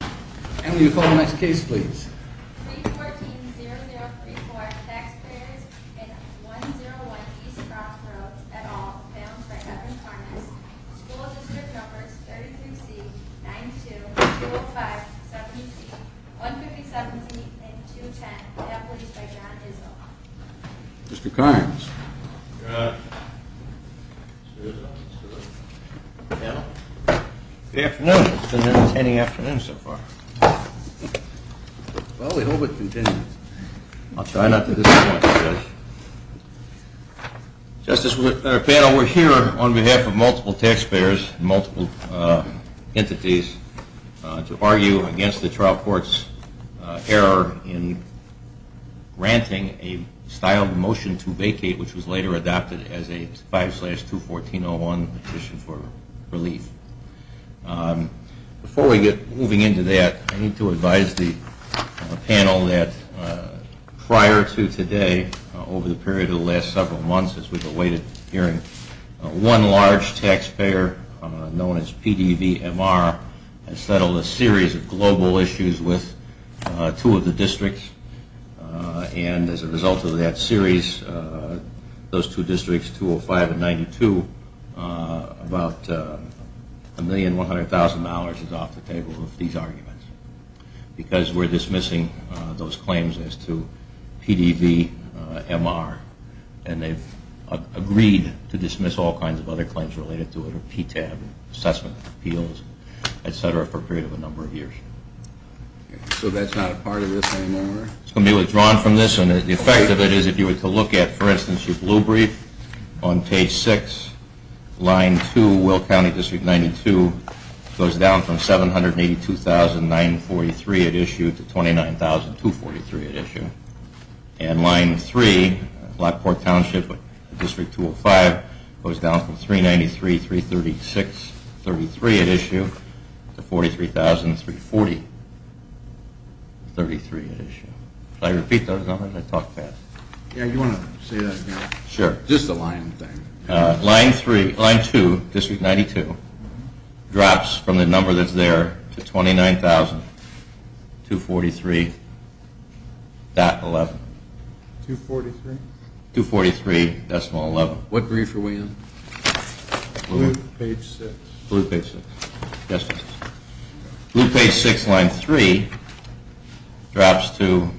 And will you call the next case please? 314-0034 Taxpayers and 101 E. Crossroads, et al. Founds by Evan Karnes. School District Numbers 33C, 92, 205, 70C, 157C, and 210 have leased by John Izzo. Mr. Karnes. Good afternoon. It's been an entertaining afternoon so far. Well, we hope it continues. I'll try not to disappoint you guys. Justice, we're here on behalf of multiple taxpayers and multiple entities to argue against the trial court's error in granting a style of motion to vacate which was later adopted as a 5-214-01 petition for relief. Before we get moving into that, I need to advise the panel that prior to today, over the period of the last several months as we've awaited hearing, one large taxpayer known as PDVMR has settled a series of global issues with two of the districts. And as a result of that series, those two districts, 205 and 92, about $1,100,000 is off the table of these arguments because we're dismissing those claims as to PDVMR and they've agreed to dismiss all kinds of other claims related to it, PTAB, assessment appeals, et cetera, for a period of a number of years. So that's not a part of this anymore? It's going to be withdrawn from this and the effect of it is if you were to look at, for instance, your blue brief, on page 6, line 2, Will County, District 92, goes down from $782,943 at issue to $29,243 at issue. And line 3, Blackport Township, District 205, goes down from $393,336 at issue to $43,340 at issue. Should I repeat those numbers? I talk fast. Yeah, you want to say that again? Sure. Just the line thing. Line 3, line 2, District 92, drops from the number that's there to $29,243.11. $243? $243.11. What brief are we on? Blue. Page 6. Blue page 6. Yes, please. Blue page 6, line 3, drops to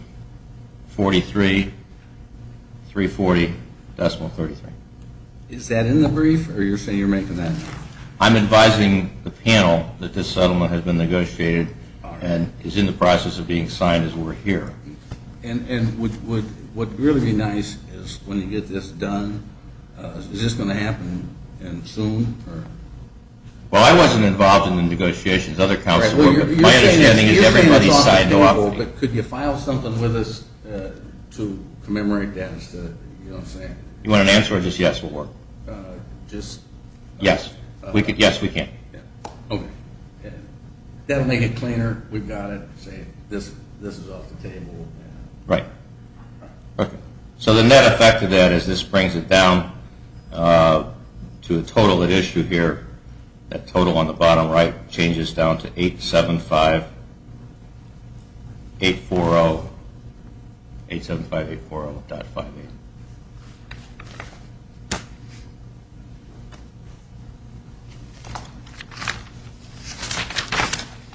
$43,340.33. Is that in the brief or you're saying you're making that up? I'm advising the panel that this settlement has been negotiated and is in the process of being signed as we're here. And what would really be nice is when you get this done, is this going to happen soon? Well, I wasn't involved in the negotiations. Other counselors were. My understanding is everybody signed off. But could you file something with us to commemorate that? You know what I'm saying? You want an answer or just yes will work? Just yes. Yes, we can. Okay. That will make it cleaner. We've got it. This is off the table. Right. Okay. So the net effect of that is this brings it down to the total at issue here. That total on the bottom right changes down to $875,840.58.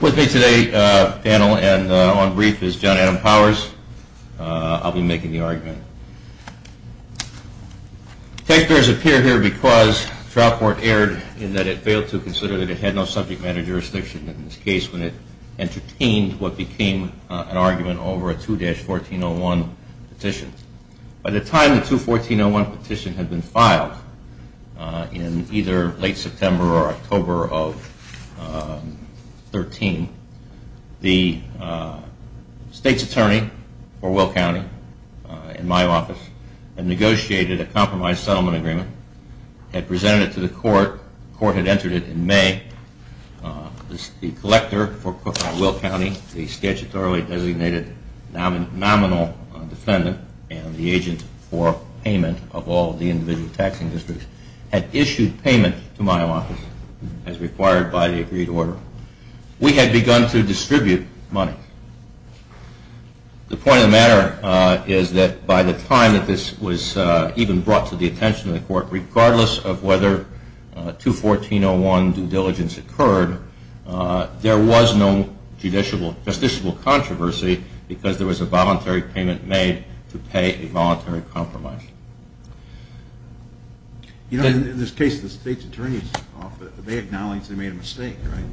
With me today, panel, and on brief is John Adam Powers. I'll be making the argument. The text does appear here because trial court erred in that it failed to consider that it had no subject matter jurisdiction in this case when it entertained what became an argument over a 2-1401 petition. By the time the 21401 petition had been filed in either late September or October of 2013, the state's attorney for Will County in my office had negotiated a compromise settlement agreement, had presented it to the court. The court had entered it in May. The collector for Will County, the statutorily designated nominal defendant and the agent for payment of all the individual taxing districts, had issued payment to my office as required by the agreed order. We had begun to distribute money. The point of the matter is that by the time that this was even brought to the attention of the court, regardless of whether 2-1401 due diligence occurred, there was no justiciable controversy because there was a voluntary payment made to pay a voluntary compromise. You know, in this case, the state's attorney's office, they acknowledged they made a mistake, right?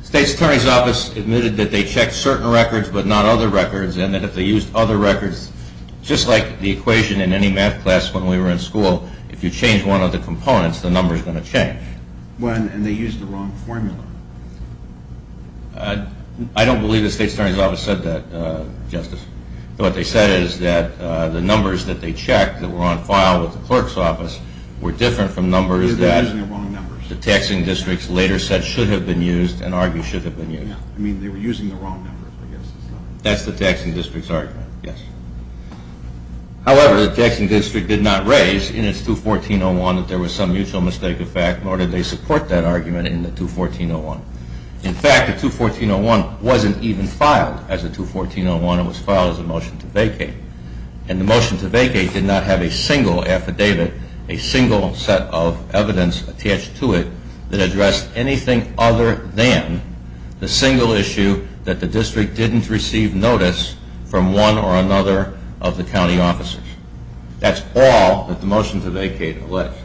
The state's attorney's office admitted that they checked certain records but not other records and that if they used other records, just like the equation in any math class when we were in school, if you change one of the components, the number is going to change. When? And they used the wrong formula. I don't believe the state's attorney's office said that, Justice. What they said is that the numbers that they checked that were on file with the clerk's office were different from numbers that the taxing districts later said should have been used and argued should have been used. I mean, they were using the wrong numbers, I guess. That's the taxing district's argument, yes. However, the taxing district did not raise in its 2-1401 that there was some mutual mistake effect nor did they support that argument in the 2-1401. In fact, the 2-1401 wasn't even filed as a 2-1401. It was filed as a motion to vacate. And the motion to vacate did not have a single affidavit, a single set of evidence attached to it that addressed anything other than the single issue that the district didn't receive notice from one or another of the county officers. That's all that the motion to vacate alleged.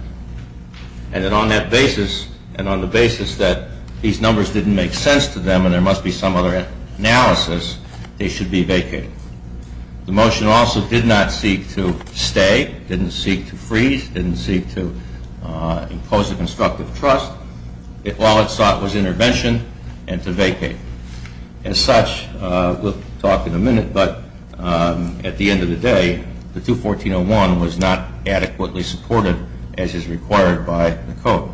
And on that basis, and on the basis that these numbers didn't make sense to them and there must be some other analysis, they should be vacated. The motion also did not seek to stay, didn't seek to freeze, didn't seek to impose a constructive trust. All it sought was intervention and to vacate. As such, we'll talk in a minute, but at the end of the day, the 2-1401 was not adequately supported as is required by the code.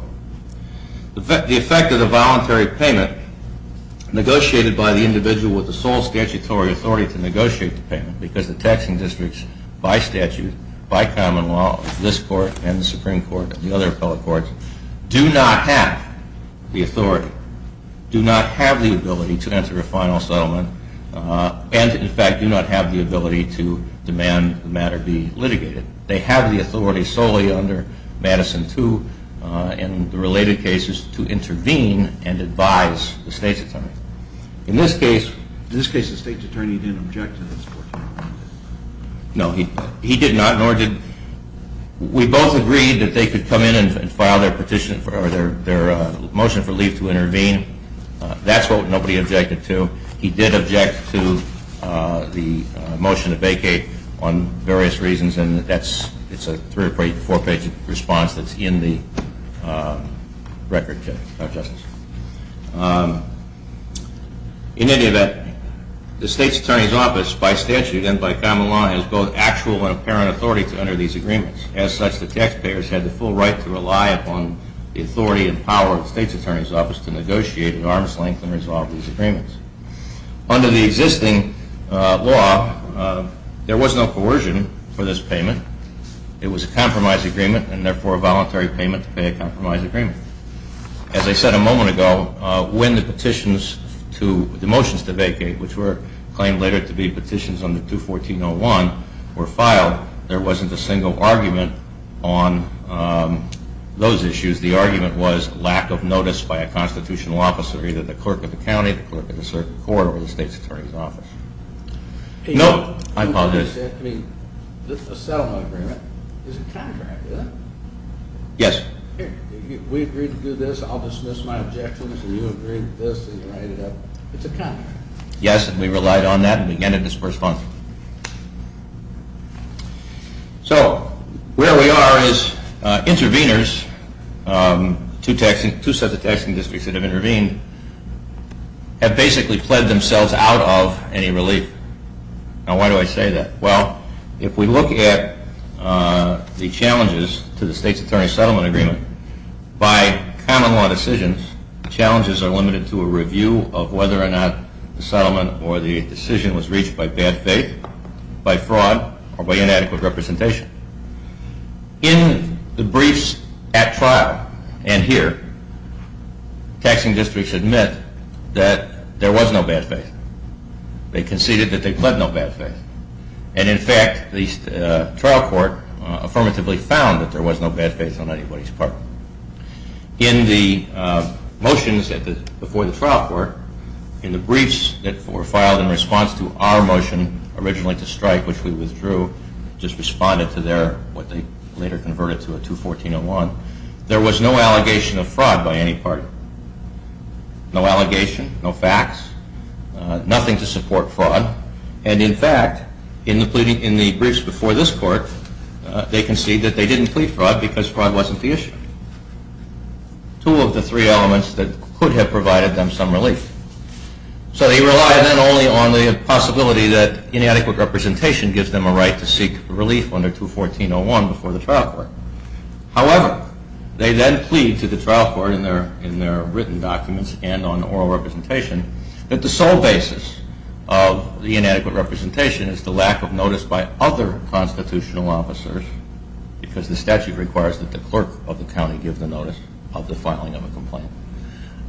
The effect of the voluntary payment negotiated by the individual with the sole statutory authority to negotiate the payment because the taxing districts by statute, by common law, this court and the Supreme Court and the other appellate courts do not have the authority, do not have the ability to enter a final settlement, and, in fact, do not have the ability to demand the matter be litigated. They have the authority solely under Madison 2 and the related cases to intervene and advise the state's attorney. In this case, the state's attorney didn't object to this. No, he did not. We both agreed that they could come in and file their motion for leave to intervene. That's what nobody objected to. He did object to the motion to vacate on various reasons, and it's a three- or four-page response that's in the record, Justice. In any event, the state's attorney's office, by statute and by common law, has both actual and apparent authority to enter these agreements. As such, the taxpayers had the full right to rely upon the authority and power of the state's attorney's office to negotiate at arm's length and resolve these agreements. Under the existing law, there was no coercion for this payment. It was a compromise agreement and, therefore, a voluntary payment to pay a compromise agreement. As I said a moment ago, when the motions to vacate, which were claimed later to be petitions under 214.01, were filed, there wasn't a single argument on those issues. The argument was lack of notice by a constitutional officer, either the clerk of the county, the clerk of the circuit court, or the state's attorney's office. No, I apologize. This settlement agreement is a contract, isn't it? Yes. We agreed to do this, I'll dismiss my objections, and you agreed to this, and you write it up. It's a contract. Yes, and we relied on that and began to disperse funds. So, where we are is intervenors, two sets of taxing districts that have intervened, have basically pled themselves out of any relief. Now, why do I say that? Well, if we look at the challenges to the state's attorney's settlement agreement, by common law decisions, challenges are limited to a review of whether or not the settlement or the decision was reached by bad faith, by fraud, or by inadequate representation. In the briefs at trial, and here, taxing districts admit that there was no bad faith. They conceded that they pled no bad faith. And, in fact, the trial court affirmatively found that there was no bad faith on anybody's part. In the motions before the trial court, in the briefs that were filed in response to our motion originally to strike, which we withdrew, just responded to what they later converted to a 214-01, there was no allegation of fraud by any party. No allegation, no facts, nothing to support fraud. And, in fact, in the briefs before this court, they conceded that they didn't plead fraud because fraud wasn't the issue. Two of the three elements that could have provided them some relief. So they relied not only on the possibility that inadequate representation gives them a right to seek relief under 214-01 before the trial court. However, they then plead to the trial court in their written documents and on oral representation that the sole basis of the inadequate representation is the lack of notice by other constitutional officers because the statute requires that the clerk of the county give the notice of the filing of a complaint.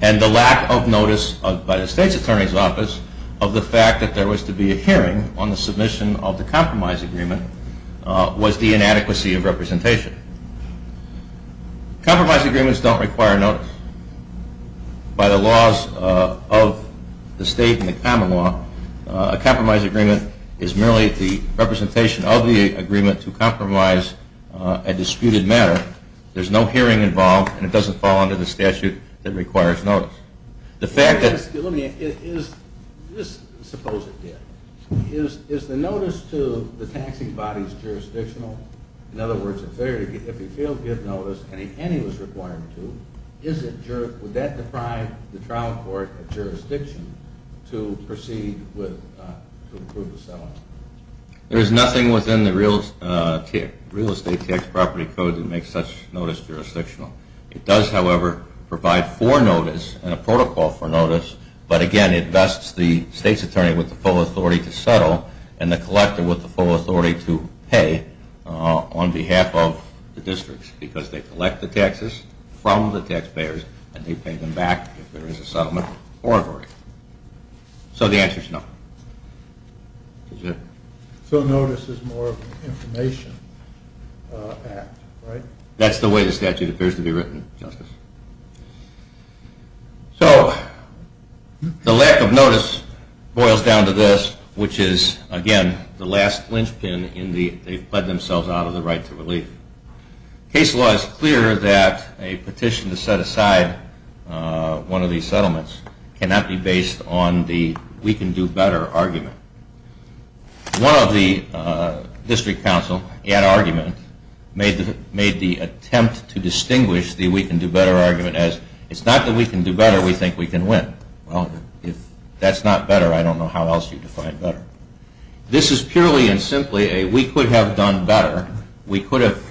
And the lack of notice by the state's attorney's office of the fact that there was to be a hearing on the submission of the compromise agreement was the inadequacy of representation. Compromise agreements don't require notice. By the laws of the state and the common law, a compromise agreement is merely the representation of the agreement to compromise a disputed matter. There's no hearing involved and it doesn't fall under the statute that requires notice. The fact that… Let me ask, suppose it did. Is the notice to the taxing bodies jurisdictional? In other words, if he failed to give notice and he was required to, would that deprive the trial court of jurisdiction to proceed with the settlement? There is nothing within the real estate tax property code that makes such notice jurisdictional. It does, however, provide for notice and a protocol for notice, but again it vests the state's attorney with the full authority to settle and the collector with the full authority to pay on behalf of the districts because they collect the taxes from the taxpayers and they pay them back if there is a settlement or a verdict. So the answer is no. So notice is more of an information act, right? That's the way the statute appears to be written, Justice. So the lack of notice boils down to this, which is, again, the last lynchpin in the… They've bled themselves out of the right to relief. Case law is clear that a petition to set aside one of these settlements cannot be based on the we can do better argument. One of the district counsel in argument made the attempt to distinguish the we can do better argument as it's not that we can do better, we think we can win. Well, if that's not better, I don't know how else you define better. This is purely and simply a we could have done better. We could have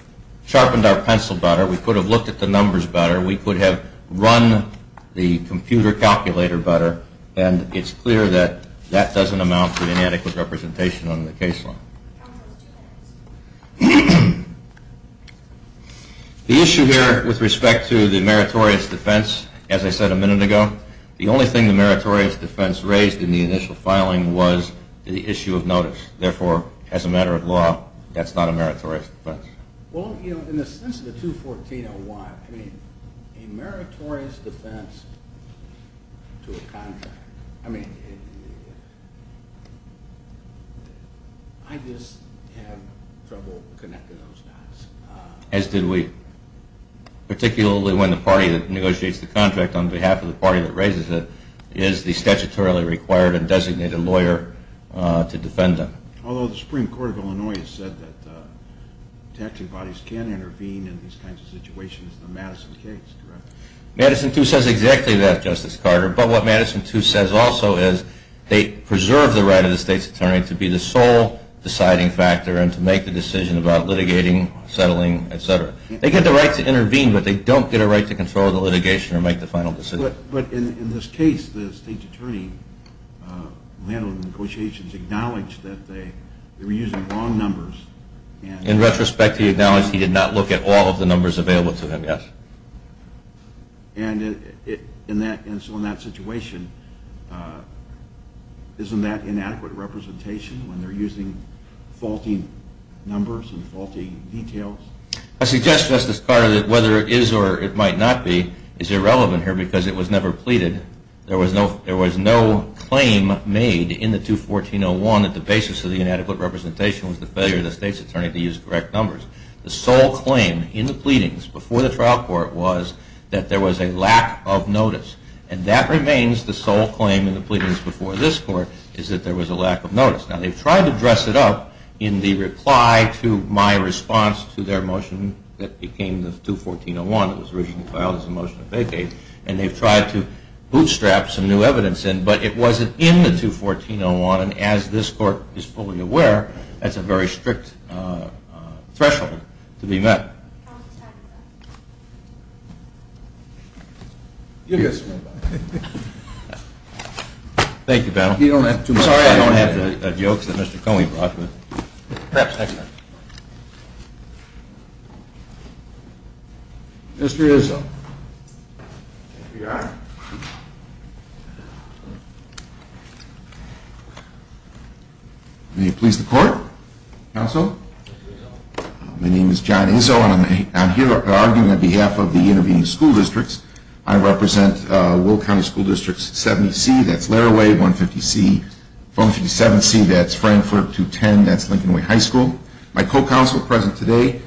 sharpened our pencil better. We could have looked at the numbers better. We could have run the computer calculator better and it's clear that that doesn't amount to inadequate representation under the case law. The issue here with respect to the meritorious defense, as I said a minute ago, the only thing the meritorious defense raised in the initial filing was the issue of notice. Therefore, as a matter of law, that's not a meritorious defense. Well, in the sense of the 214-01, a meritorious defense to a contract, I just have trouble connecting those dots. As did we, particularly when the party that negotiates the contract on behalf of the party that raises it is the statutorily required and designated lawyer to defend them. Although the Supreme Court of Illinois has said that detective bodies can intervene in these kinds of situations, the Madison case, correct? Madison too says exactly that, Justice Carter. But what Madison too says also is they preserve the right of the state's attorney to be the sole deciding factor and to make the decision about litigating, settling, et cetera. They get the right to intervene, but they don't get a right to control the litigation or make the final decision. But in this case, the state's attorney who handled the negotiations acknowledged that they were using wrong numbers. In retrospect, he acknowledged he did not look at all of the numbers available to him, yes. And so in that situation, isn't that inadequate representation when they're using faulty numbers and faulty details? I suggest, Justice Carter, that whether it is or it might not be is irrelevant here because it was never pleaded. There was no claim made in the 214-01 that the basis of the inadequate representation was the failure of the state's attorney to use correct numbers. The sole claim in the pleadings before the trial court was that there was a lack of notice. And that remains the sole claim in the pleadings before this court is that there was a lack of notice. Now, they've tried to dress it up in the reply to my response to their motion that became the 214-01. It was originally filed as a motion of vacate. And they've tried to bootstrap some new evidence in, but it wasn't in the 214-01. And as this court is fully aware, that's a very strict threshold to be met. Thank you, panel. I'm sorry I don't have the jokes that Mr. Coney brought, but perhaps next time. Mr. Izzo. Thank you, Your Honor. May it please the court? Counsel? My name is John Izzo, and I'm here arguing on behalf of the intervening school districts. I represent Will County School District 70C, that's Larraway, 150C, 157C, that's Frankfurt 210, that's Lincoln Way High School. My co-counsel present today,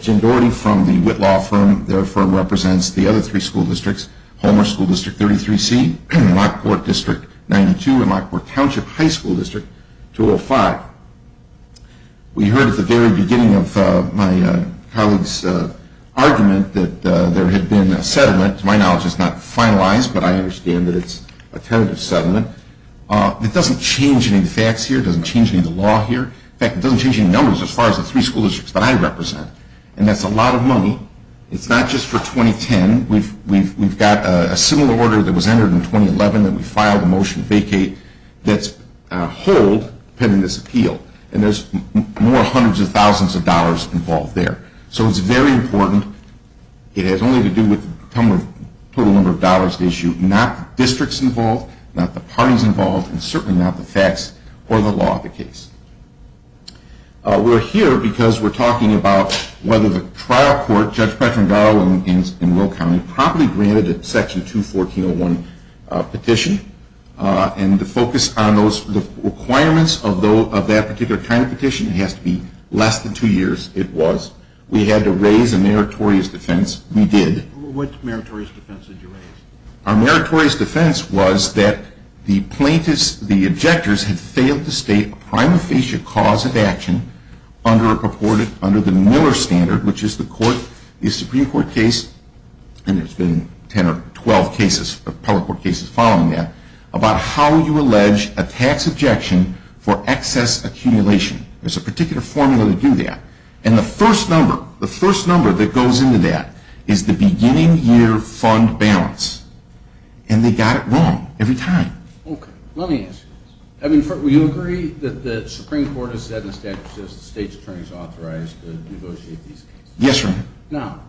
Jim Doherty from the Whitlaw firm. Their firm represents the other three school districts, Homer School District 33C, Lockport District 92, and Lockport Township High School District 205. We heard at the very beginning of my colleague's argument that there had been a settlement. To my knowledge, it's not finalized, but I understand that it's a tentative settlement. It doesn't change any of the facts here. It doesn't change any of the law here. In fact, it doesn't change any numbers as far as the three school districts that I represent. And that's a lot of money. It's not just for 2010. We've got a similar order that was entered in 2011 that we filed a motion to vacate that's hold pending this appeal. And there's more hundreds of thousands of dollars involved there. So it's very important. It has only to do with the total number of dollars at issue, not the districts involved, not the parties involved, and certainly not the facts or the law of the case. We're here because we're talking about whether the trial court, Judge Patrick Garland in Will County, promptly granted a Section 214.01 petition. And the focus on those requirements of that particular kind of petition has to be less than two years. It was. We had to raise a meritorious defense. We did. What meritorious defense did you raise? Our meritorious defense was that the plaintiffs, the objectors, had failed to state a prima facie cause of action under the Miller Standard, which is the Supreme Court case, and there's been 10 or 12 cases, appellate court cases following that, about how you allege a tax objection for excess accumulation. There's a particular formula to do that. And the first number, the first number that goes into that is the beginning year fund balance. And they got it wrong every time. Okay. Let me ask you this. I mean, do you agree that the Supreme Court has said in statute that the state's attorney is authorized to negotiate these cases? Yes, Your Honor. Now,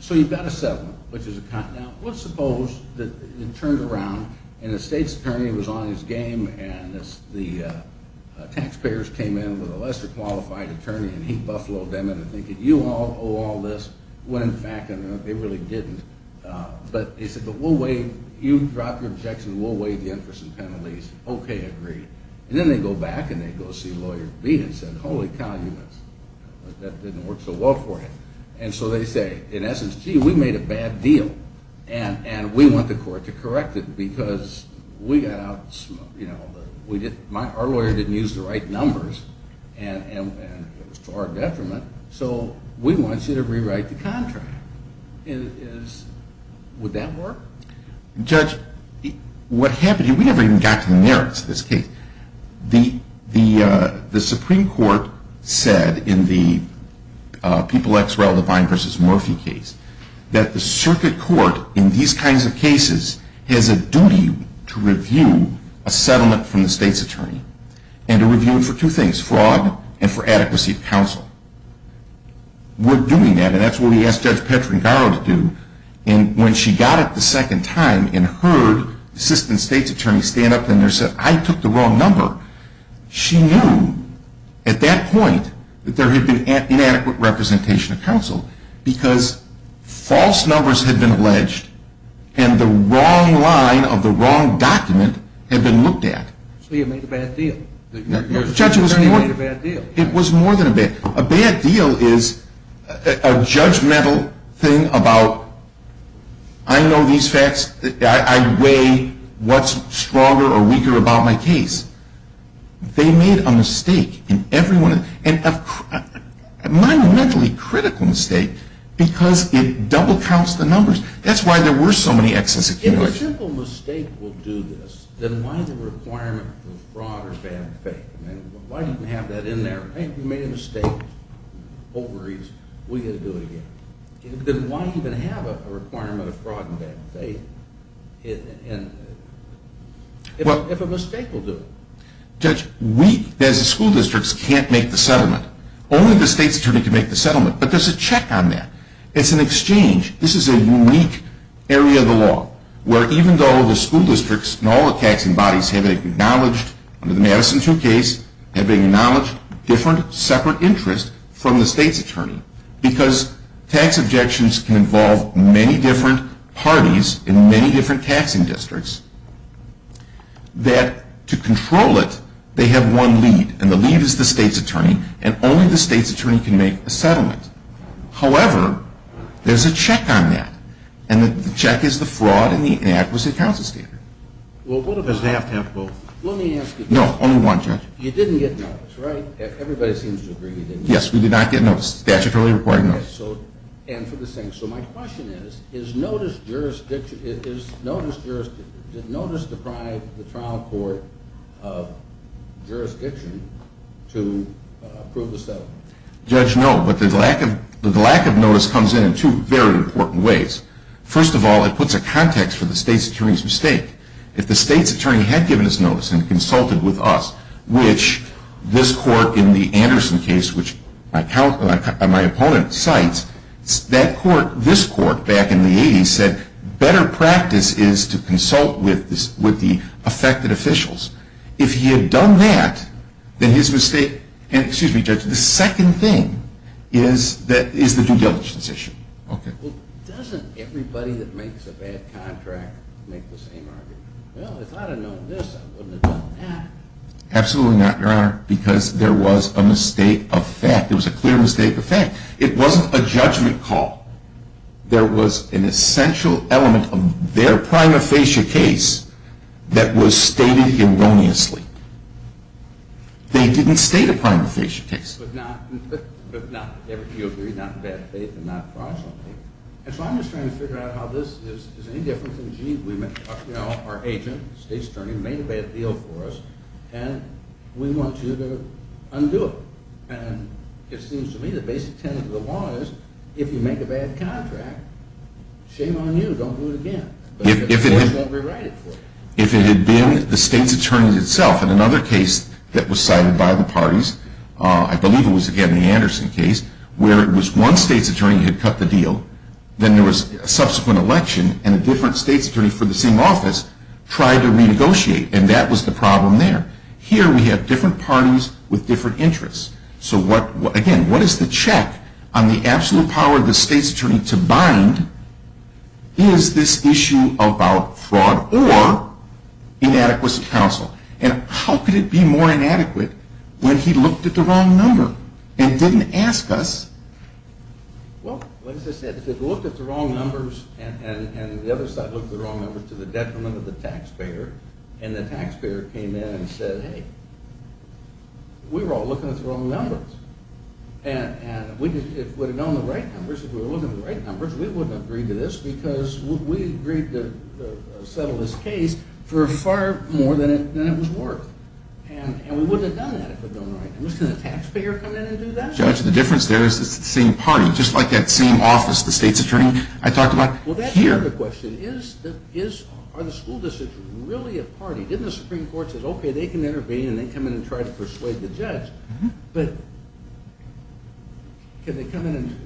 so you've got a settlement, which is a continent. Now, let's suppose that it turns around, and the state's attorney was on his game, and the taxpayers came in with a lesser qualified attorney, and he buffaloed them into thinking, you all owe all this, when in fact they really didn't. But he said, but we'll waive, you drop your objection, we'll waive the interest and penalties. Okay, agreed. And then they go back and they go see lawyer B and said, holy cow, that didn't work so well for him. And so they say, in essence, gee, we made a bad deal. And we want the court to correct it because we got out, you know, our lawyer didn't use the right numbers, and it was to our detriment, so we want you to rewrite the contract. Would that work? Judge, what happened here, we never even got to the merits of this case. The Supreme Court said in the People x Rel. Divine v. Murphy case, that the circuit court in these kinds of cases has a duty to review a settlement from the state's attorney, and to review it for two things, fraud and for adequacy of counsel. We're doing that, and that's what we asked Judge Petringaro to do, and when she got it the second time and heard the assistant state's attorney stand up and say, I took the wrong number, she knew at that point that there had been inadequate representation of counsel because false numbers had been alleged and the wrong line of the wrong document had been looked at. So you made a bad deal. No, Judge, it was more than a bad deal. A bad deal is a judgmental thing about, I know these facts, I weigh what's stronger or weaker about my case. They made a mistake in every one of them, and a monumentally critical mistake, because it double counts the numbers. That's why there were so many excess accumulators. If a simple mistake will do this, then why the requirement for fraud or bad faith? Why do you have that in there? Hey, you made a mistake. Don't worry. We can do it again. Then why even have a requirement of fraud and bad faith if a mistake will do it? Judge, we as the school districts can't make the settlement. Only the state's attorney can make the settlement, but there's a check on that. It's an exchange. This is a unique area of the law where even though the school districts and all the taxing bodies have acknowledged under the Madison 2 case, have acknowledged different separate interests from the state's attorney, because tax objections can involve many different parties in many different taxing districts, that to control it, they have one lead, and the lead is the state's attorney, and only the state's attorney can make a settlement. However, there's a check on that, and the check is the fraud and the inadequate counsel standard. Does they have to have both? Let me ask you. No, only one, Judge. You didn't get notice, right? Everybody seems to agree you didn't get notice. Yes, we did not get notice. Statutory reporting, no. And for the same, so my question is, is notice jurisdiction, did notice deprive the trial court of jurisdiction to approve the settlement? Judge, no, but the lack of notice comes in in two very important ways. First of all, it puts a context for the state's attorney's mistake. If the state's attorney had given us notice and consulted with us, which this court in the Anderson case, which my opponent cites, that court, this court back in the 80s, said better practice is to consult with the affected officials. If he had done that, then his mistake, and excuse me, Judge, the second thing is the due diligence issue. Okay. Doesn't everybody that makes a bad contract make the same argument? Well, if I'd have known this, I wouldn't have done that. Absolutely not, Your Honor, because there was a mistake of fact. It was a clear mistake of fact. It wasn't a judgment call. There was an essential element of their prima facie case that was stated erroneously. They didn't state a prima facie case. You agree, not in bad faith and not in fraudulent faith. And so I'm just trying to figure out how this is any different from, gee, our agent, state's attorney, made a bad deal for us, and we want you to undo it. And it seems to me the basic tenet of the law is if you make a bad contract, shame on you, don't do it again. But the court won't rewrite it for you. If it had been the state's attorney itself in another case that was cited by the parties, I believe it was, again, the Anderson case, where it was one state's attorney who had cut the deal, then there was a subsequent election and a different state's attorney for the same office tried to renegotiate, and that was the problem there. Here we have different parties with different interests. So, again, what is the check on the absolute power of the state's attorney to bind? Is this issue about fraud or inadequacy of counsel? And how could it be more inadequate when he looked at the wrong number and didn't ask us? Well, as I said, if it looked at the wrong numbers and the other side looked at the wrong numbers to the detriment of the taxpayer, and the taxpayer came in and said, hey, we were all looking at the wrong numbers, and if we had known the right numbers, if we were looking at the right numbers, we wouldn't have agreed to this because we agreed to settle this case for far more than it was worth. And we wouldn't have done that if it had gone right. And was the taxpayer going to come in and do that? Judge, the difference there is it's the same party. Just like that same office, the state's attorney, I talked about here. Well, that's part of the question. Is the school district really a party? Didn't the Supreme Court say, okay, they can intervene and then come in and try to persuade the judge? But can they come in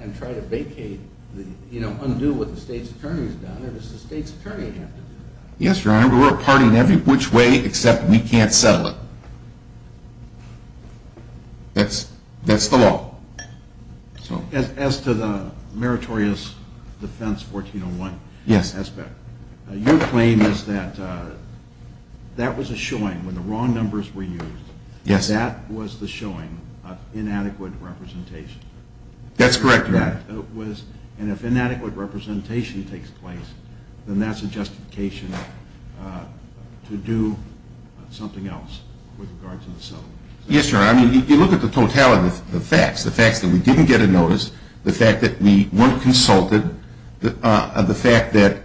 and try to vacate, undo what the state's attorney has done? Or does the state's attorney have to do that? Yes, Your Honor. We're a party in every which way except we can't settle it. That's the law. As to the meritorious defense 1401 aspect, your claim is that that was a showing when the wrong numbers were used. Yes. That was the showing of inadequate representation. That's correct, Your Honor. And if inadequate representation takes place, then that's a justification to do something else with regards to the settlement. Yes, Your Honor. I mean, you look at the totality of the facts, the facts that we didn't get a notice, the fact that we weren't consulted, the fact that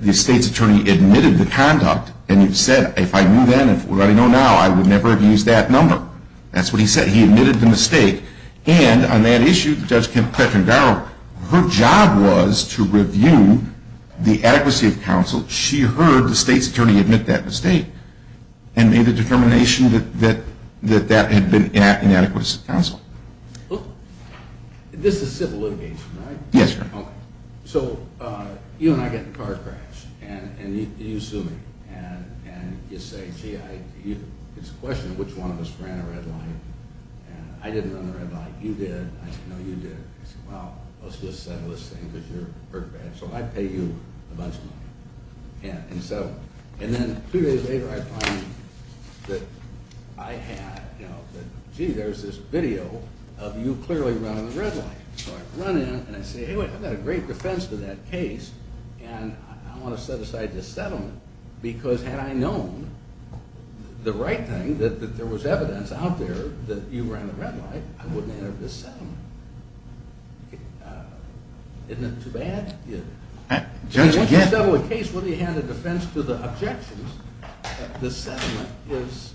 the state's attorney admitted the conduct and he said, if I knew then and if I know now, I would never have used that number. That's what he said. He admitted the mistake. And on that issue, Judge Kim Cletton-Garrow, her job was to review the adequacy of counsel. She heard the state's attorney admit that mistake and made the determination that that had been inadequate counsel. Yes, Your Honor. Okay. So you and I get in a car crash and you sue me. And you say, gee, it's a question of which one of us ran a red light. And I didn't run the red light. You did. I said, no, you did. You said, well, let's just settle this thing because you're hurt bad. So I pay you a bunch of money. And then three days later I find that I had, you know, that, gee, there's this video of you clearly running the red light. So I run in and I say, hey, wait, I've got a great defense to that case. And I want to set aside this settlement because had I known the right thing, that there was evidence out there that you ran the red light, I wouldn't have entered this settlement. Isn't it too bad? Judge Kim. Once you settle a case, whether you had a defense to the objections, the settlement is,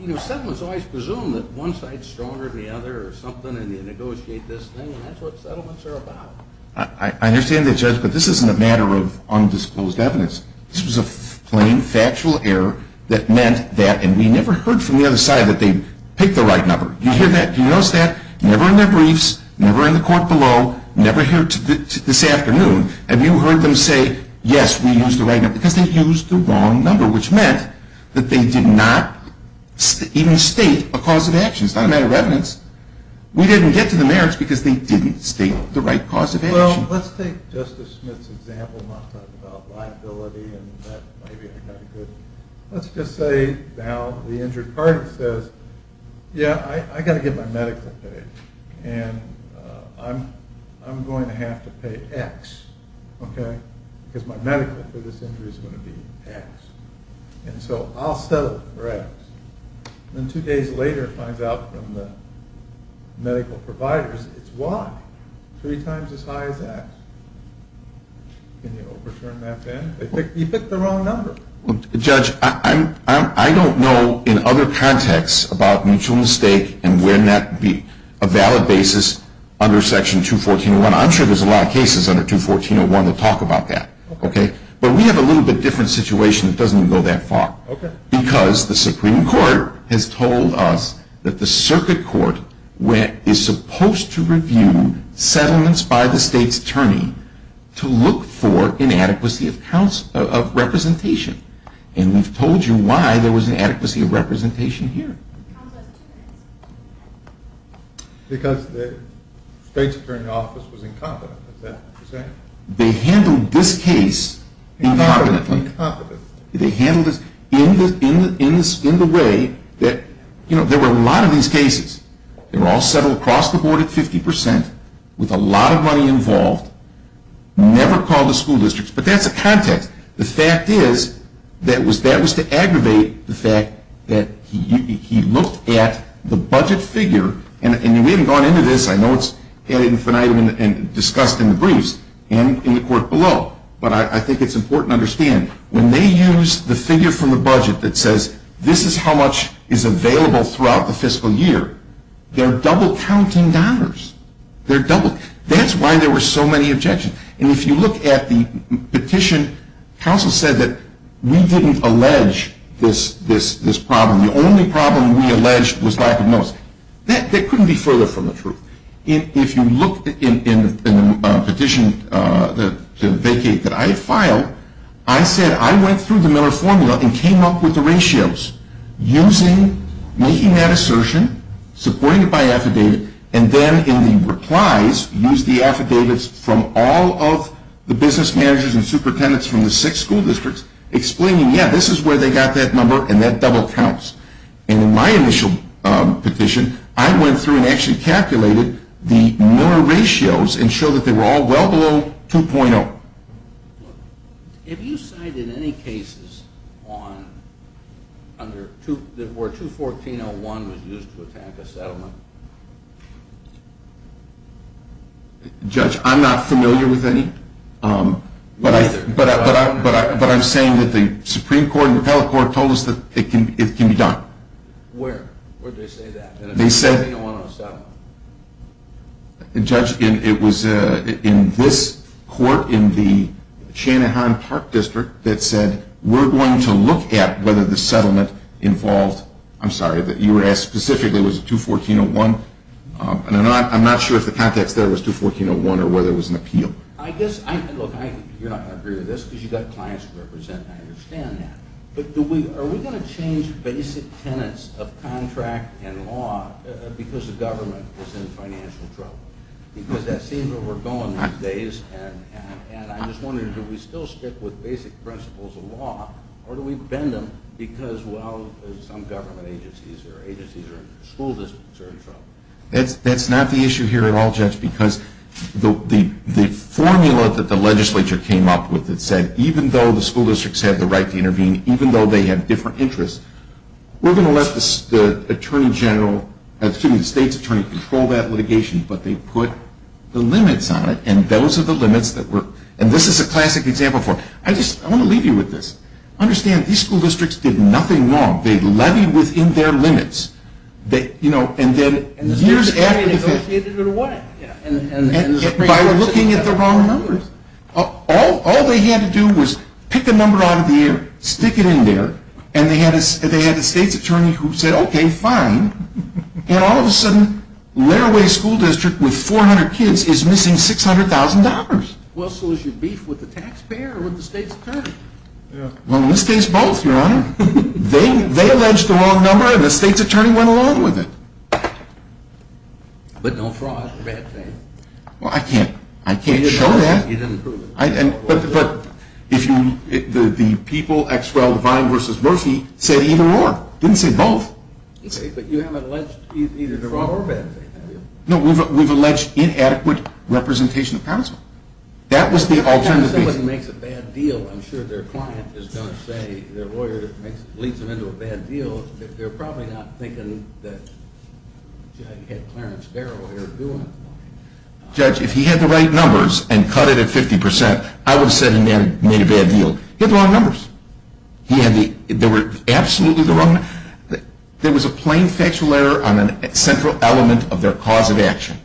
you know, settlements always presume that one side's stronger than the other or something. And then you negotiate this thing. And that's what settlements are about. I understand that, Judge. But this isn't a matter of undisclosed evidence. This was a plain factual error that meant that. And we never heard from the other side that they picked the right number. Do you hear that? Do you notice that? Never in their briefs, never in the court below, never here this afternoon have you heard them say, yes, we used the right number. Because they used the wrong number, which meant that they did not even state a cause of action. It's not a matter of evidence. We didn't get to the merits because they didn't state the right cause of action. Well, let's take Justice Smith's example. I'm not talking about liability. Let's just say now the injured party says, yeah, I've got to get my medical paid. And I'm going to have to pay X, okay, because my medical for this injury is going to be X. And so I'll settle for X. Then two days later it finds out from the medical providers it's Y, three times as high as X. Can you overturn that then? You picked the wrong number. Judge, I don't know in other contexts about mutual mistake and when that would be a valid basis under Section 214.1. I'm sure there's a lot of cases under 214.1 that talk about that, okay? But we have a little bit different situation that doesn't even go that far. Okay. Because the Supreme Court has told us that the circuit court is supposed to review settlements by the state's attorney to look for inadequacy of representation. And we've told you why there was inadequacy of representation here. Because the state's attorney's office was incompetent, is that what you're saying? They handled this case incompetently. They handled this in the way that, you know, there were a lot of these cases. They were all settled across the board at 50 percent with a lot of money involved, never called the school districts. But that's a context. The fact is that was to aggravate the fact that he looked at the budget figure, and we haven't gone into this. I know it's added an item and discussed in the briefs and in the court below. But I think it's important to understand, when they use the figure from the budget that says, this is how much is available throughout the fiscal year, they're double-counting dollars. They're double-counting. That's why there were so many objections. And if you look at the petition, counsel said that we didn't allege this problem. The only problem we alleged was lack of notice. That couldn't be further from the truth. If you look in the petition, the vacate that I filed, I said I went through the Miller formula and came up with the ratios, using, making that assertion, supporting it by affidavit, and then in the replies, used the affidavits from all of the business managers and superintendents from the six school districts, explaining, yeah, this is where they got that number, and that double-counts. And in my initial petition, I went through and actually calculated the Miller ratios and showed that they were all well below 2.0. Have you cited any cases where 214.01 was used to attack a settlement? Judge, I'm not familiar with any. Neither. But I'm saying that the Supreme Court and the appellate court told us that it can be done. Where? Where did they say that? They said- 214.01 on a settlement. Judge, it was in this court in the Shanahan Park District that said, we're going to look at whether the settlement involved, I'm sorry, you were asked specifically, was it 214.01? And I'm not sure if the context there was 214.01 or whether it was an appeal. I guess, look, you're not going to agree with this because you've got clients to represent, and I understand that. But are we going to change basic tenets of contract and law because the government is in financial trouble? Because that seems where we're going these days. And I'm just wondering, do we still stick with basic principles of law, or do we bend them because, well, some government agencies or agencies or school districts are in trouble? That's not the issue here at all, Judge, because the formula that the legislature came up with that said, even though the school districts have the right to intervene, even though they have different interests, we're going to let the Attorney General, excuse me, the state's attorney control that litigation. But they put the limits on it, and those are the limits that were- and this is a classic example for it. I just want to leave you with this. Understand, these school districts did nothing wrong. They levied within their limits. And then years after- And the state's attorney negotiated it away. By looking at the wrong numbers. All they had to do was pick a number out of the air, stick it in there, and they had a state's attorney who said, okay, fine. And all of a sudden, Larraway School District with 400 kids is missing $600,000. Well, so is your beef with the taxpayer or with the state's attorney? Well, in this case, both, Your Honor. They alleged the wrong number, and the state's attorney went along with it. But no fraud or bad faith. Well, I can't show that. You didn't prove it. But the people, Exwell, Devine versus Murphy, said either or, didn't say both. But you haven't alleged either the wrong or bad faith, have you? No, we've alleged inadequate representation of counsel. That was the alternative. If somebody makes a bad deal, I'm sure their client is going to say, their lawyer leads them into a bad deal. They're probably not thinking that you had Clarence Darrow here doing it. Judge, if he had the right numbers and cut it at 50%, I would have said he made a bad deal. He had the wrong numbers. They were absolutely the wrong numbers. There was a plain factual error on a central element of their cause of action.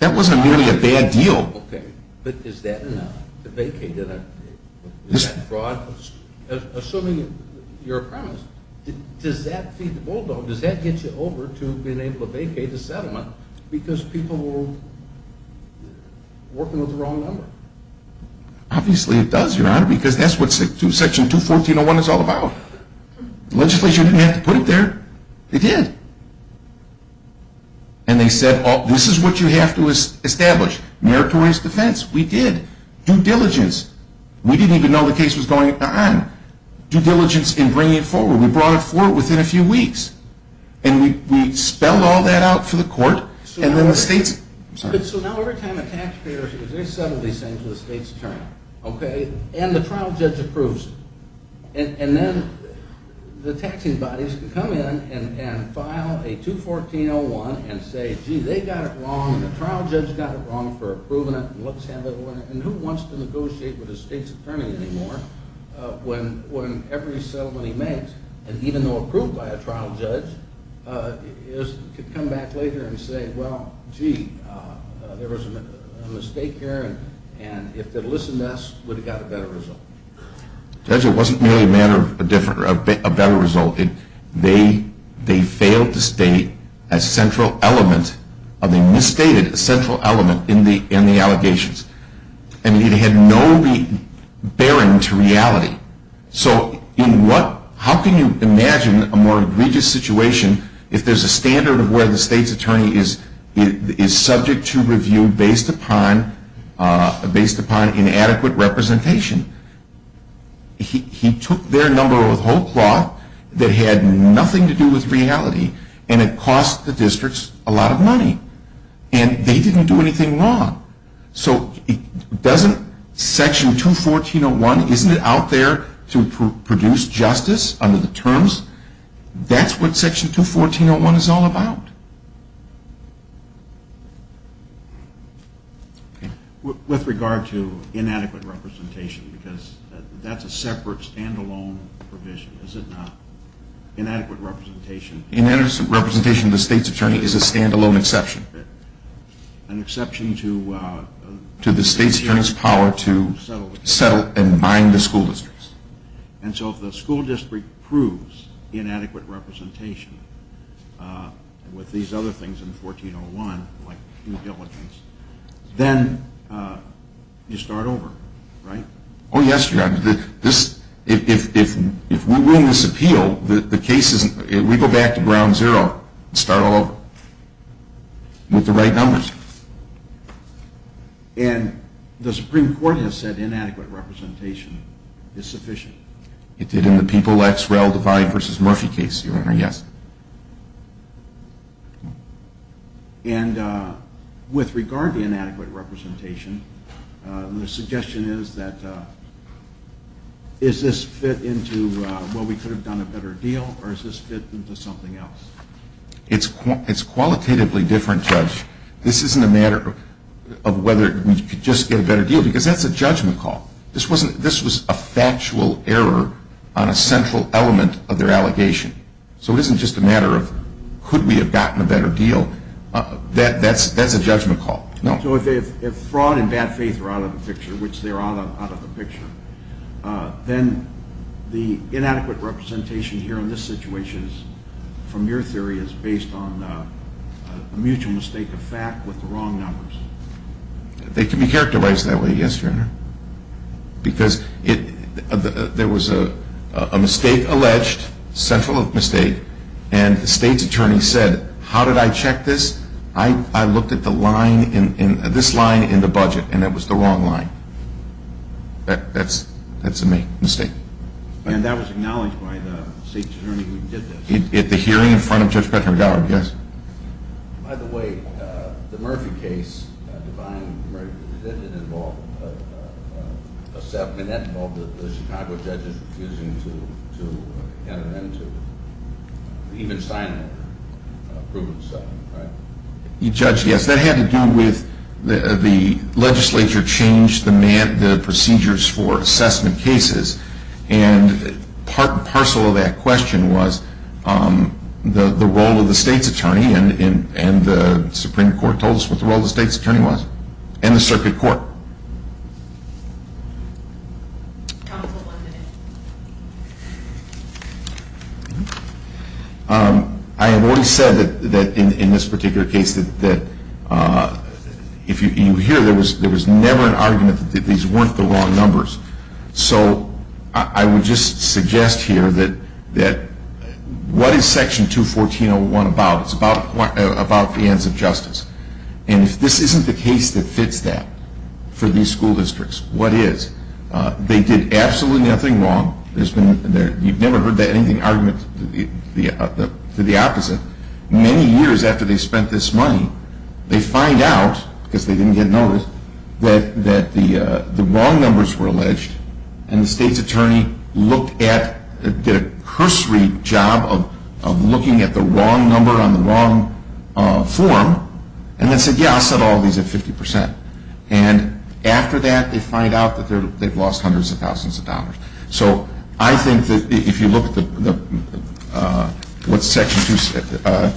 That wasn't merely a bad deal. Okay. But is that enough to vacate it? Is that fraud? Assuming you're a premise, does that feed the bulldog? Does that get you over to being able to vacate the settlement because people were working with the wrong number? Obviously it does, Your Honor, because that's what Section 214.01 is all about. The legislature didn't have to put it there. They did. And they said, this is what you have to establish. Meritorious defense. We did. Due diligence. We didn't even know the case was going on. Due diligence in bringing it forward. We brought it forward within a few weeks. And we spelled all that out for the court. And then the states. I'm sorry. So now every time a tax appears, they settle these things with the state's attorney. Okay. And the trial judge approves it. And then the taxing bodies can come in and file a 214.01 and say, gee, they got it wrong and the trial judge got it wrong for approving it and let's have it a winner. And who wants to negotiate with the state's attorney anymore when every settlement he makes, and even though approved by a trial judge, could come back later and say, well, gee, there was a mistake here, and if they'd listened to us, we'd have got a better result. Judge, it wasn't merely a matter of a better result. They failed to state a central element, a misstated central element in the allegations. And it had no bearing to reality. So how can you imagine a more egregious situation if there's a standard of where the state's attorney is subject to review based upon inadequate representation? He took their number with whole cloth that had nothing to do with reality, and it cost the districts a lot of money. And they didn't do anything wrong. So doesn't Section 214.01, isn't it out there to produce justice under the terms? That's what Section 214.01 is all about. With regard to inadequate representation, because that's a separate stand-alone provision, is it not? Inadequate representation. Inadequate representation of the state's attorney is a stand-alone exception. An exception to the state's attorney's power to settle and bind the school districts. And so if the school district proves inadequate representation with these other things in 14.01, like due diligence, then you start over, right? Oh, yes, Judge. If we win this appeal, the case isn't we go back to ground zero and start all over with the right numbers. And the Supreme Court has said inadequate representation is sufficient. It did in the People x Rel Divide v. Murphy case, Your Honor, yes. And with regard to inadequate representation, the suggestion is that, is this fit into, well, we could have done a better deal, or is this fit into something else? It's qualitatively different, Judge. This isn't a matter of whether we could just get a better deal, because that's a judgment call. This was a factual error on a central element of their allegation. So it isn't just a matter of could we have gotten a better deal. That's a judgment call. So if fraud and bad faith are out of the picture, which they are out of the picture, then the inadequate representation here in this situation, from your theory, is based on a mutual mistake of fact with the wrong numbers. They can be characterized that way, yes, Your Honor, because there was a mistake alleged, central mistake, and the state's attorney said, how did I check this? I looked at this line in the budget, and it was the wrong line. That's a mistake. And that was acknowledged by the state's attorney who did this? At the hearing in front of Judge Petraeus, yes. By the way, the Murphy case, Divine Murphy, did it involve a settlement, and that involved the Chicago judges refusing to hand it in, to even sign approval of the settlement, right? The judge, yes. That had to do with the legislature changed the procedures for assessment cases, and part and parcel of that question was the role of the state's attorney, and the Supreme Court told us what the role of the state's attorney was, and the circuit court. I have already said that in this particular case, that if you hear there was never an argument that these weren't the wrong numbers, so I would just suggest here that what is Section 214.01 about? It's about the ends of justice, and if this isn't the case that fits that, for these school districts, what is? They did absolutely nothing wrong. You've never heard anything argument to the opposite. Many years after they spent this money, they find out, because they didn't get notice, that the wrong numbers were alleged, and the state's attorney looked at, did a cursory job of looking at the wrong number on the wrong form, and then said, yeah, I'll set all these at 50%, and after that they find out that they've lost hundreds of thousands of dollars. So I think that if you look at what Section 214.01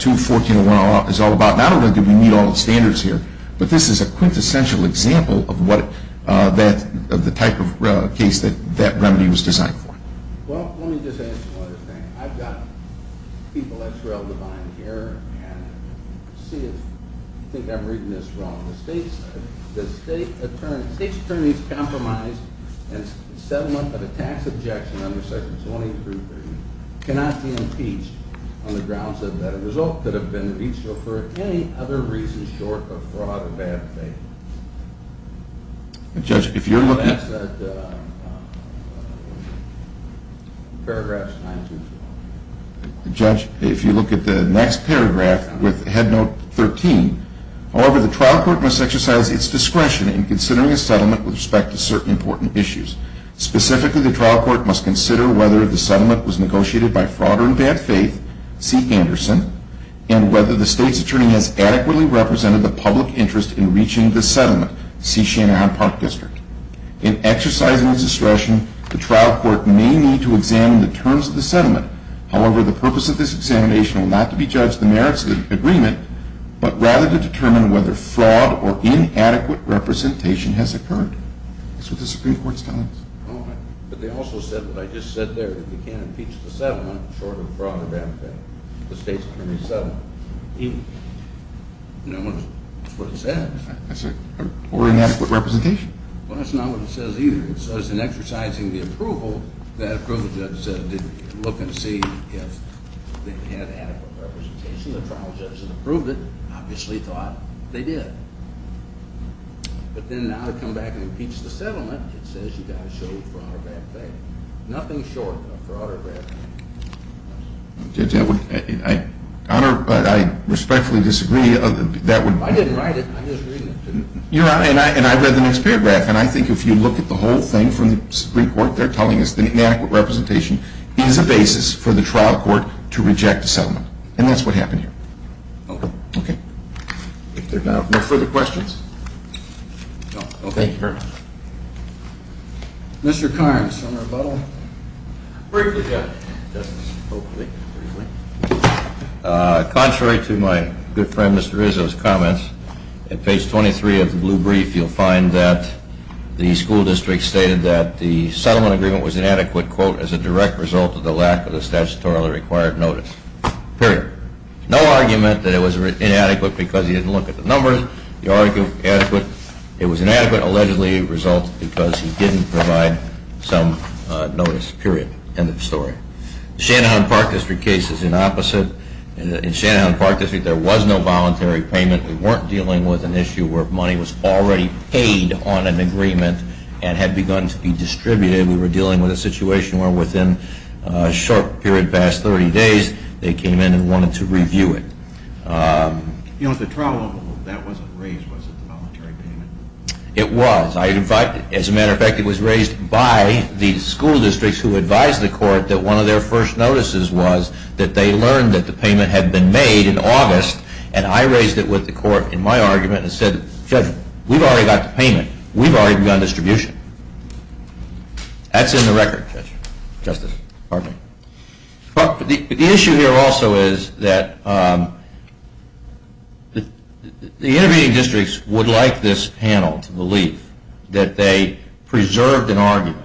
is all about, not only do we meet all the standards here, but this is a quintessential example of the type of case that that remedy was designed for. Well, let me just add one other thing. I've got people at Trail of Divine Care, and see if you think I'm reading this wrong. The state's attorney's compromise and settlement of a tax objection under Section 213.30 cannot be impeached on the grounds that the result could have been a veto for any other reason short of fraud or bad faith. Judge, if you're looking at the next paragraph with Head Note 13, however, the trial court must exercise its discretion in considering a settlement with respect to certain important issues. Specifically, the trial court must consider whether the settlement was negotiated by fraud or in bad faith, C. Anderson, and whether the state's attorney has adequately represented the public interest in reaching the settlement, C. Shanahan Park District. In exercising its discretion, the trial court may need to examine the terms of the settlement. However, the purpose of this examination will not be to judge the merits of the agreement, but rather to determine whether fraud or inadequate representation has occurred. That's what the Supreme Court's telling us. But they also said what I just said there, that you can't impeach the settlement short of fraud or bad faith. The state's attorney said it. That's what it said. Or inadequate representation. Well, that's not what it says either. So as in exercising the approval, that approval judge said look and see if they had adequate representation. The trial judge approved it, obviously thought they did. But then now to come back and impeach the settlement, it says you've got to show fraud or bad faith. Nothing short of fraud or bad faith. Judge, I respectfully disagree. I didn't write it. Your Honor, and I read the next paragraph, and I think if you look at the whole thing from the Supreme Court, they're telling us that inadequate representation is a basis for the trial court to reject a settlement. And that's what happened here. Okay. If there are no further questions? No. Okay. Mr. Carnes, on rebuttal. Briefly, Judge. Contrary to my good friend Mr. Rizzo's comments, at page 23 of the blue brief, you'll find that the school district stated that the settlement agreement was inadequate, quote, as a direct result of the lack of the statutorily required notice. Period. No argument that it was inadequate because he didn't look at the numbers. It was inadequate, allegedly, because he didn't provide some notice. Period. End of story. Shanahan Park District case is the opposite. In Shanahan Park District, there was no voluntary payment. We weren't dealing with an issue where money was already paid on an agreement and had begun to be distributed. We were dealing with a situation where within a short period past 30 days, they came in and wanted to review it. You know, if the trial level of that wasn't raised, was it the voluntary payment? It was. As a matter of fact, it was raised by the school districts who advised the court that one of their first notices was that they learned that the payment had been made in August, and I raised it with the court in my argument and said, Judge, we've already got the payment. We've already begun distribution. That's in the record, Judge. Justice. Pardon me. The issue here also is that the intervening districts would like this panel to believe that they preserved an argument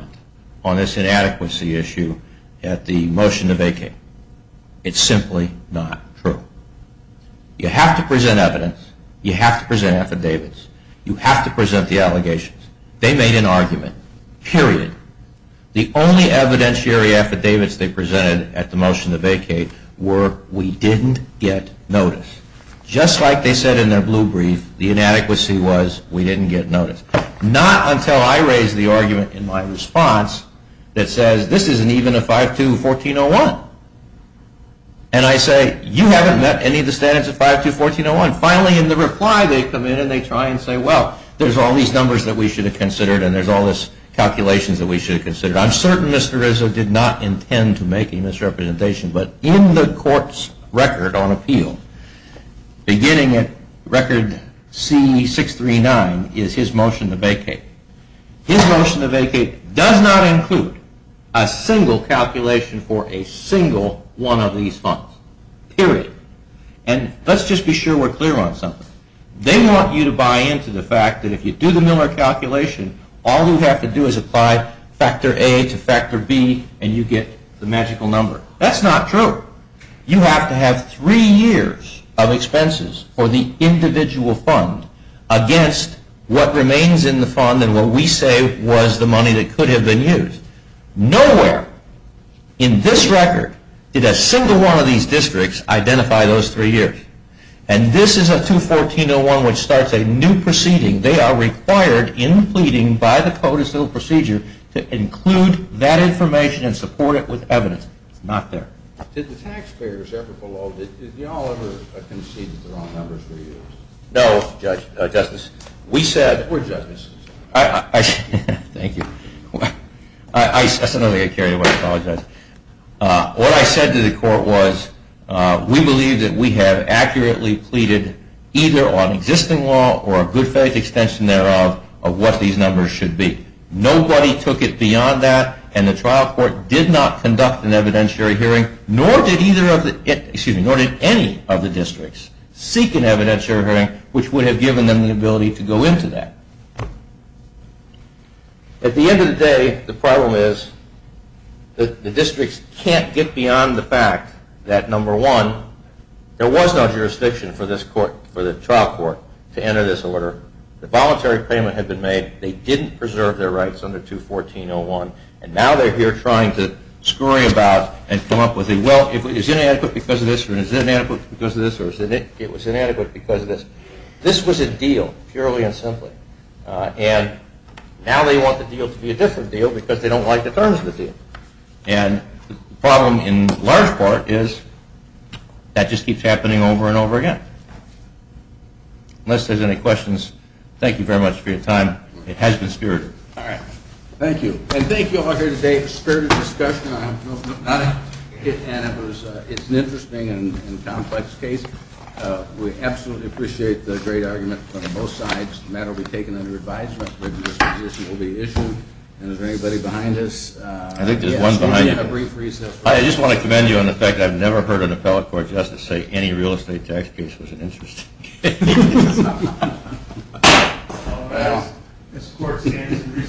on this inadequacy issue at the motion to vacate. It's simply not true. You have to present evidence. You have to present affidavits. You have to present the allegations. They made an argument. Period. The only evidentiary affidavits they presented at the motion to vacate were we didn't get notice. Just like they said in their blue brief, the inadequacy was we didn't get notice. Not until I raised the argument in my response that says this isn't even a 5214.01. And I say, you haven't met any of the standards of 5214.01. Finally, in the reply, they come in and they try and say, well, there's all these numbers that we should have considered and there's all these calculations that we should have considered. I'm certain Mr. Rizzo did not intend to make a misrepresentation, but in the court's record on appeal, beginning at record C639 is his motion to vacate. His motion to vacate does not include a single calculation for a single one of these funds. Period. And let's just be sure we're clear on something. They want you to buy into the fact that if you do the Miller calculation, all you have to do is apply factor A to factor B and you get the magical number. That's not true. You have to have three years of expenses for the individual fund against what remains in the fund and what we say was the money that could have been used. Nowhere in this record did a single one of these districts identify those three years. Period. And this is a 214.01 which starts a new proceeding. They are required in pleading by the Code of Civil Procedure to include that information and support it with evidence. It's not there. Did the taxpayers ever below, did you all ever concede that the wrong numbers were used? No, Justice. We said, we're judges. Thank you. That's another thing I carried away. I apologize. What I said to the court was we believe that we have accurately pleaded either on existing law or a good faith extension thereof of what these numbers should be. Nobody took it beyond that and the trial court did not conduct an evidentiary hearing, nor did any of the districts seek an evidentiary hearing which would have given them the ability to go into that. At the end of the day, the problem is the districts can't get beyond the fact that, number one, there was no jurisdiction for this court, for the trial court, to enter this order. The voluntary payment had been made. They didn't preserve their rights under 214.01 and now they're here trying to scurry about and come up with a, well, is it inadequate because of this or is it inadequate because of this? It was inadequate because of this. This was a deal, purely and simply. And now they want the deal to be a different deal because they don't like the terms of the deal. And the problem in large part is that just keeps happening over and over again. Unless there's any questions, thank you very much for your time. It has been spirited. Thank you. And thank you all here today for a spirited discussion. I'm not a hit man. It's an interesting and complex case. We absolutely appreciate the great argument from both sides. The matter will be taken under advisement. The disposition will be issued. And is there anybody behind us? I think there's one behind you. I just want to commend you on the fact that I've never heard an appellate court justice say any real estate tax case was an interesting case.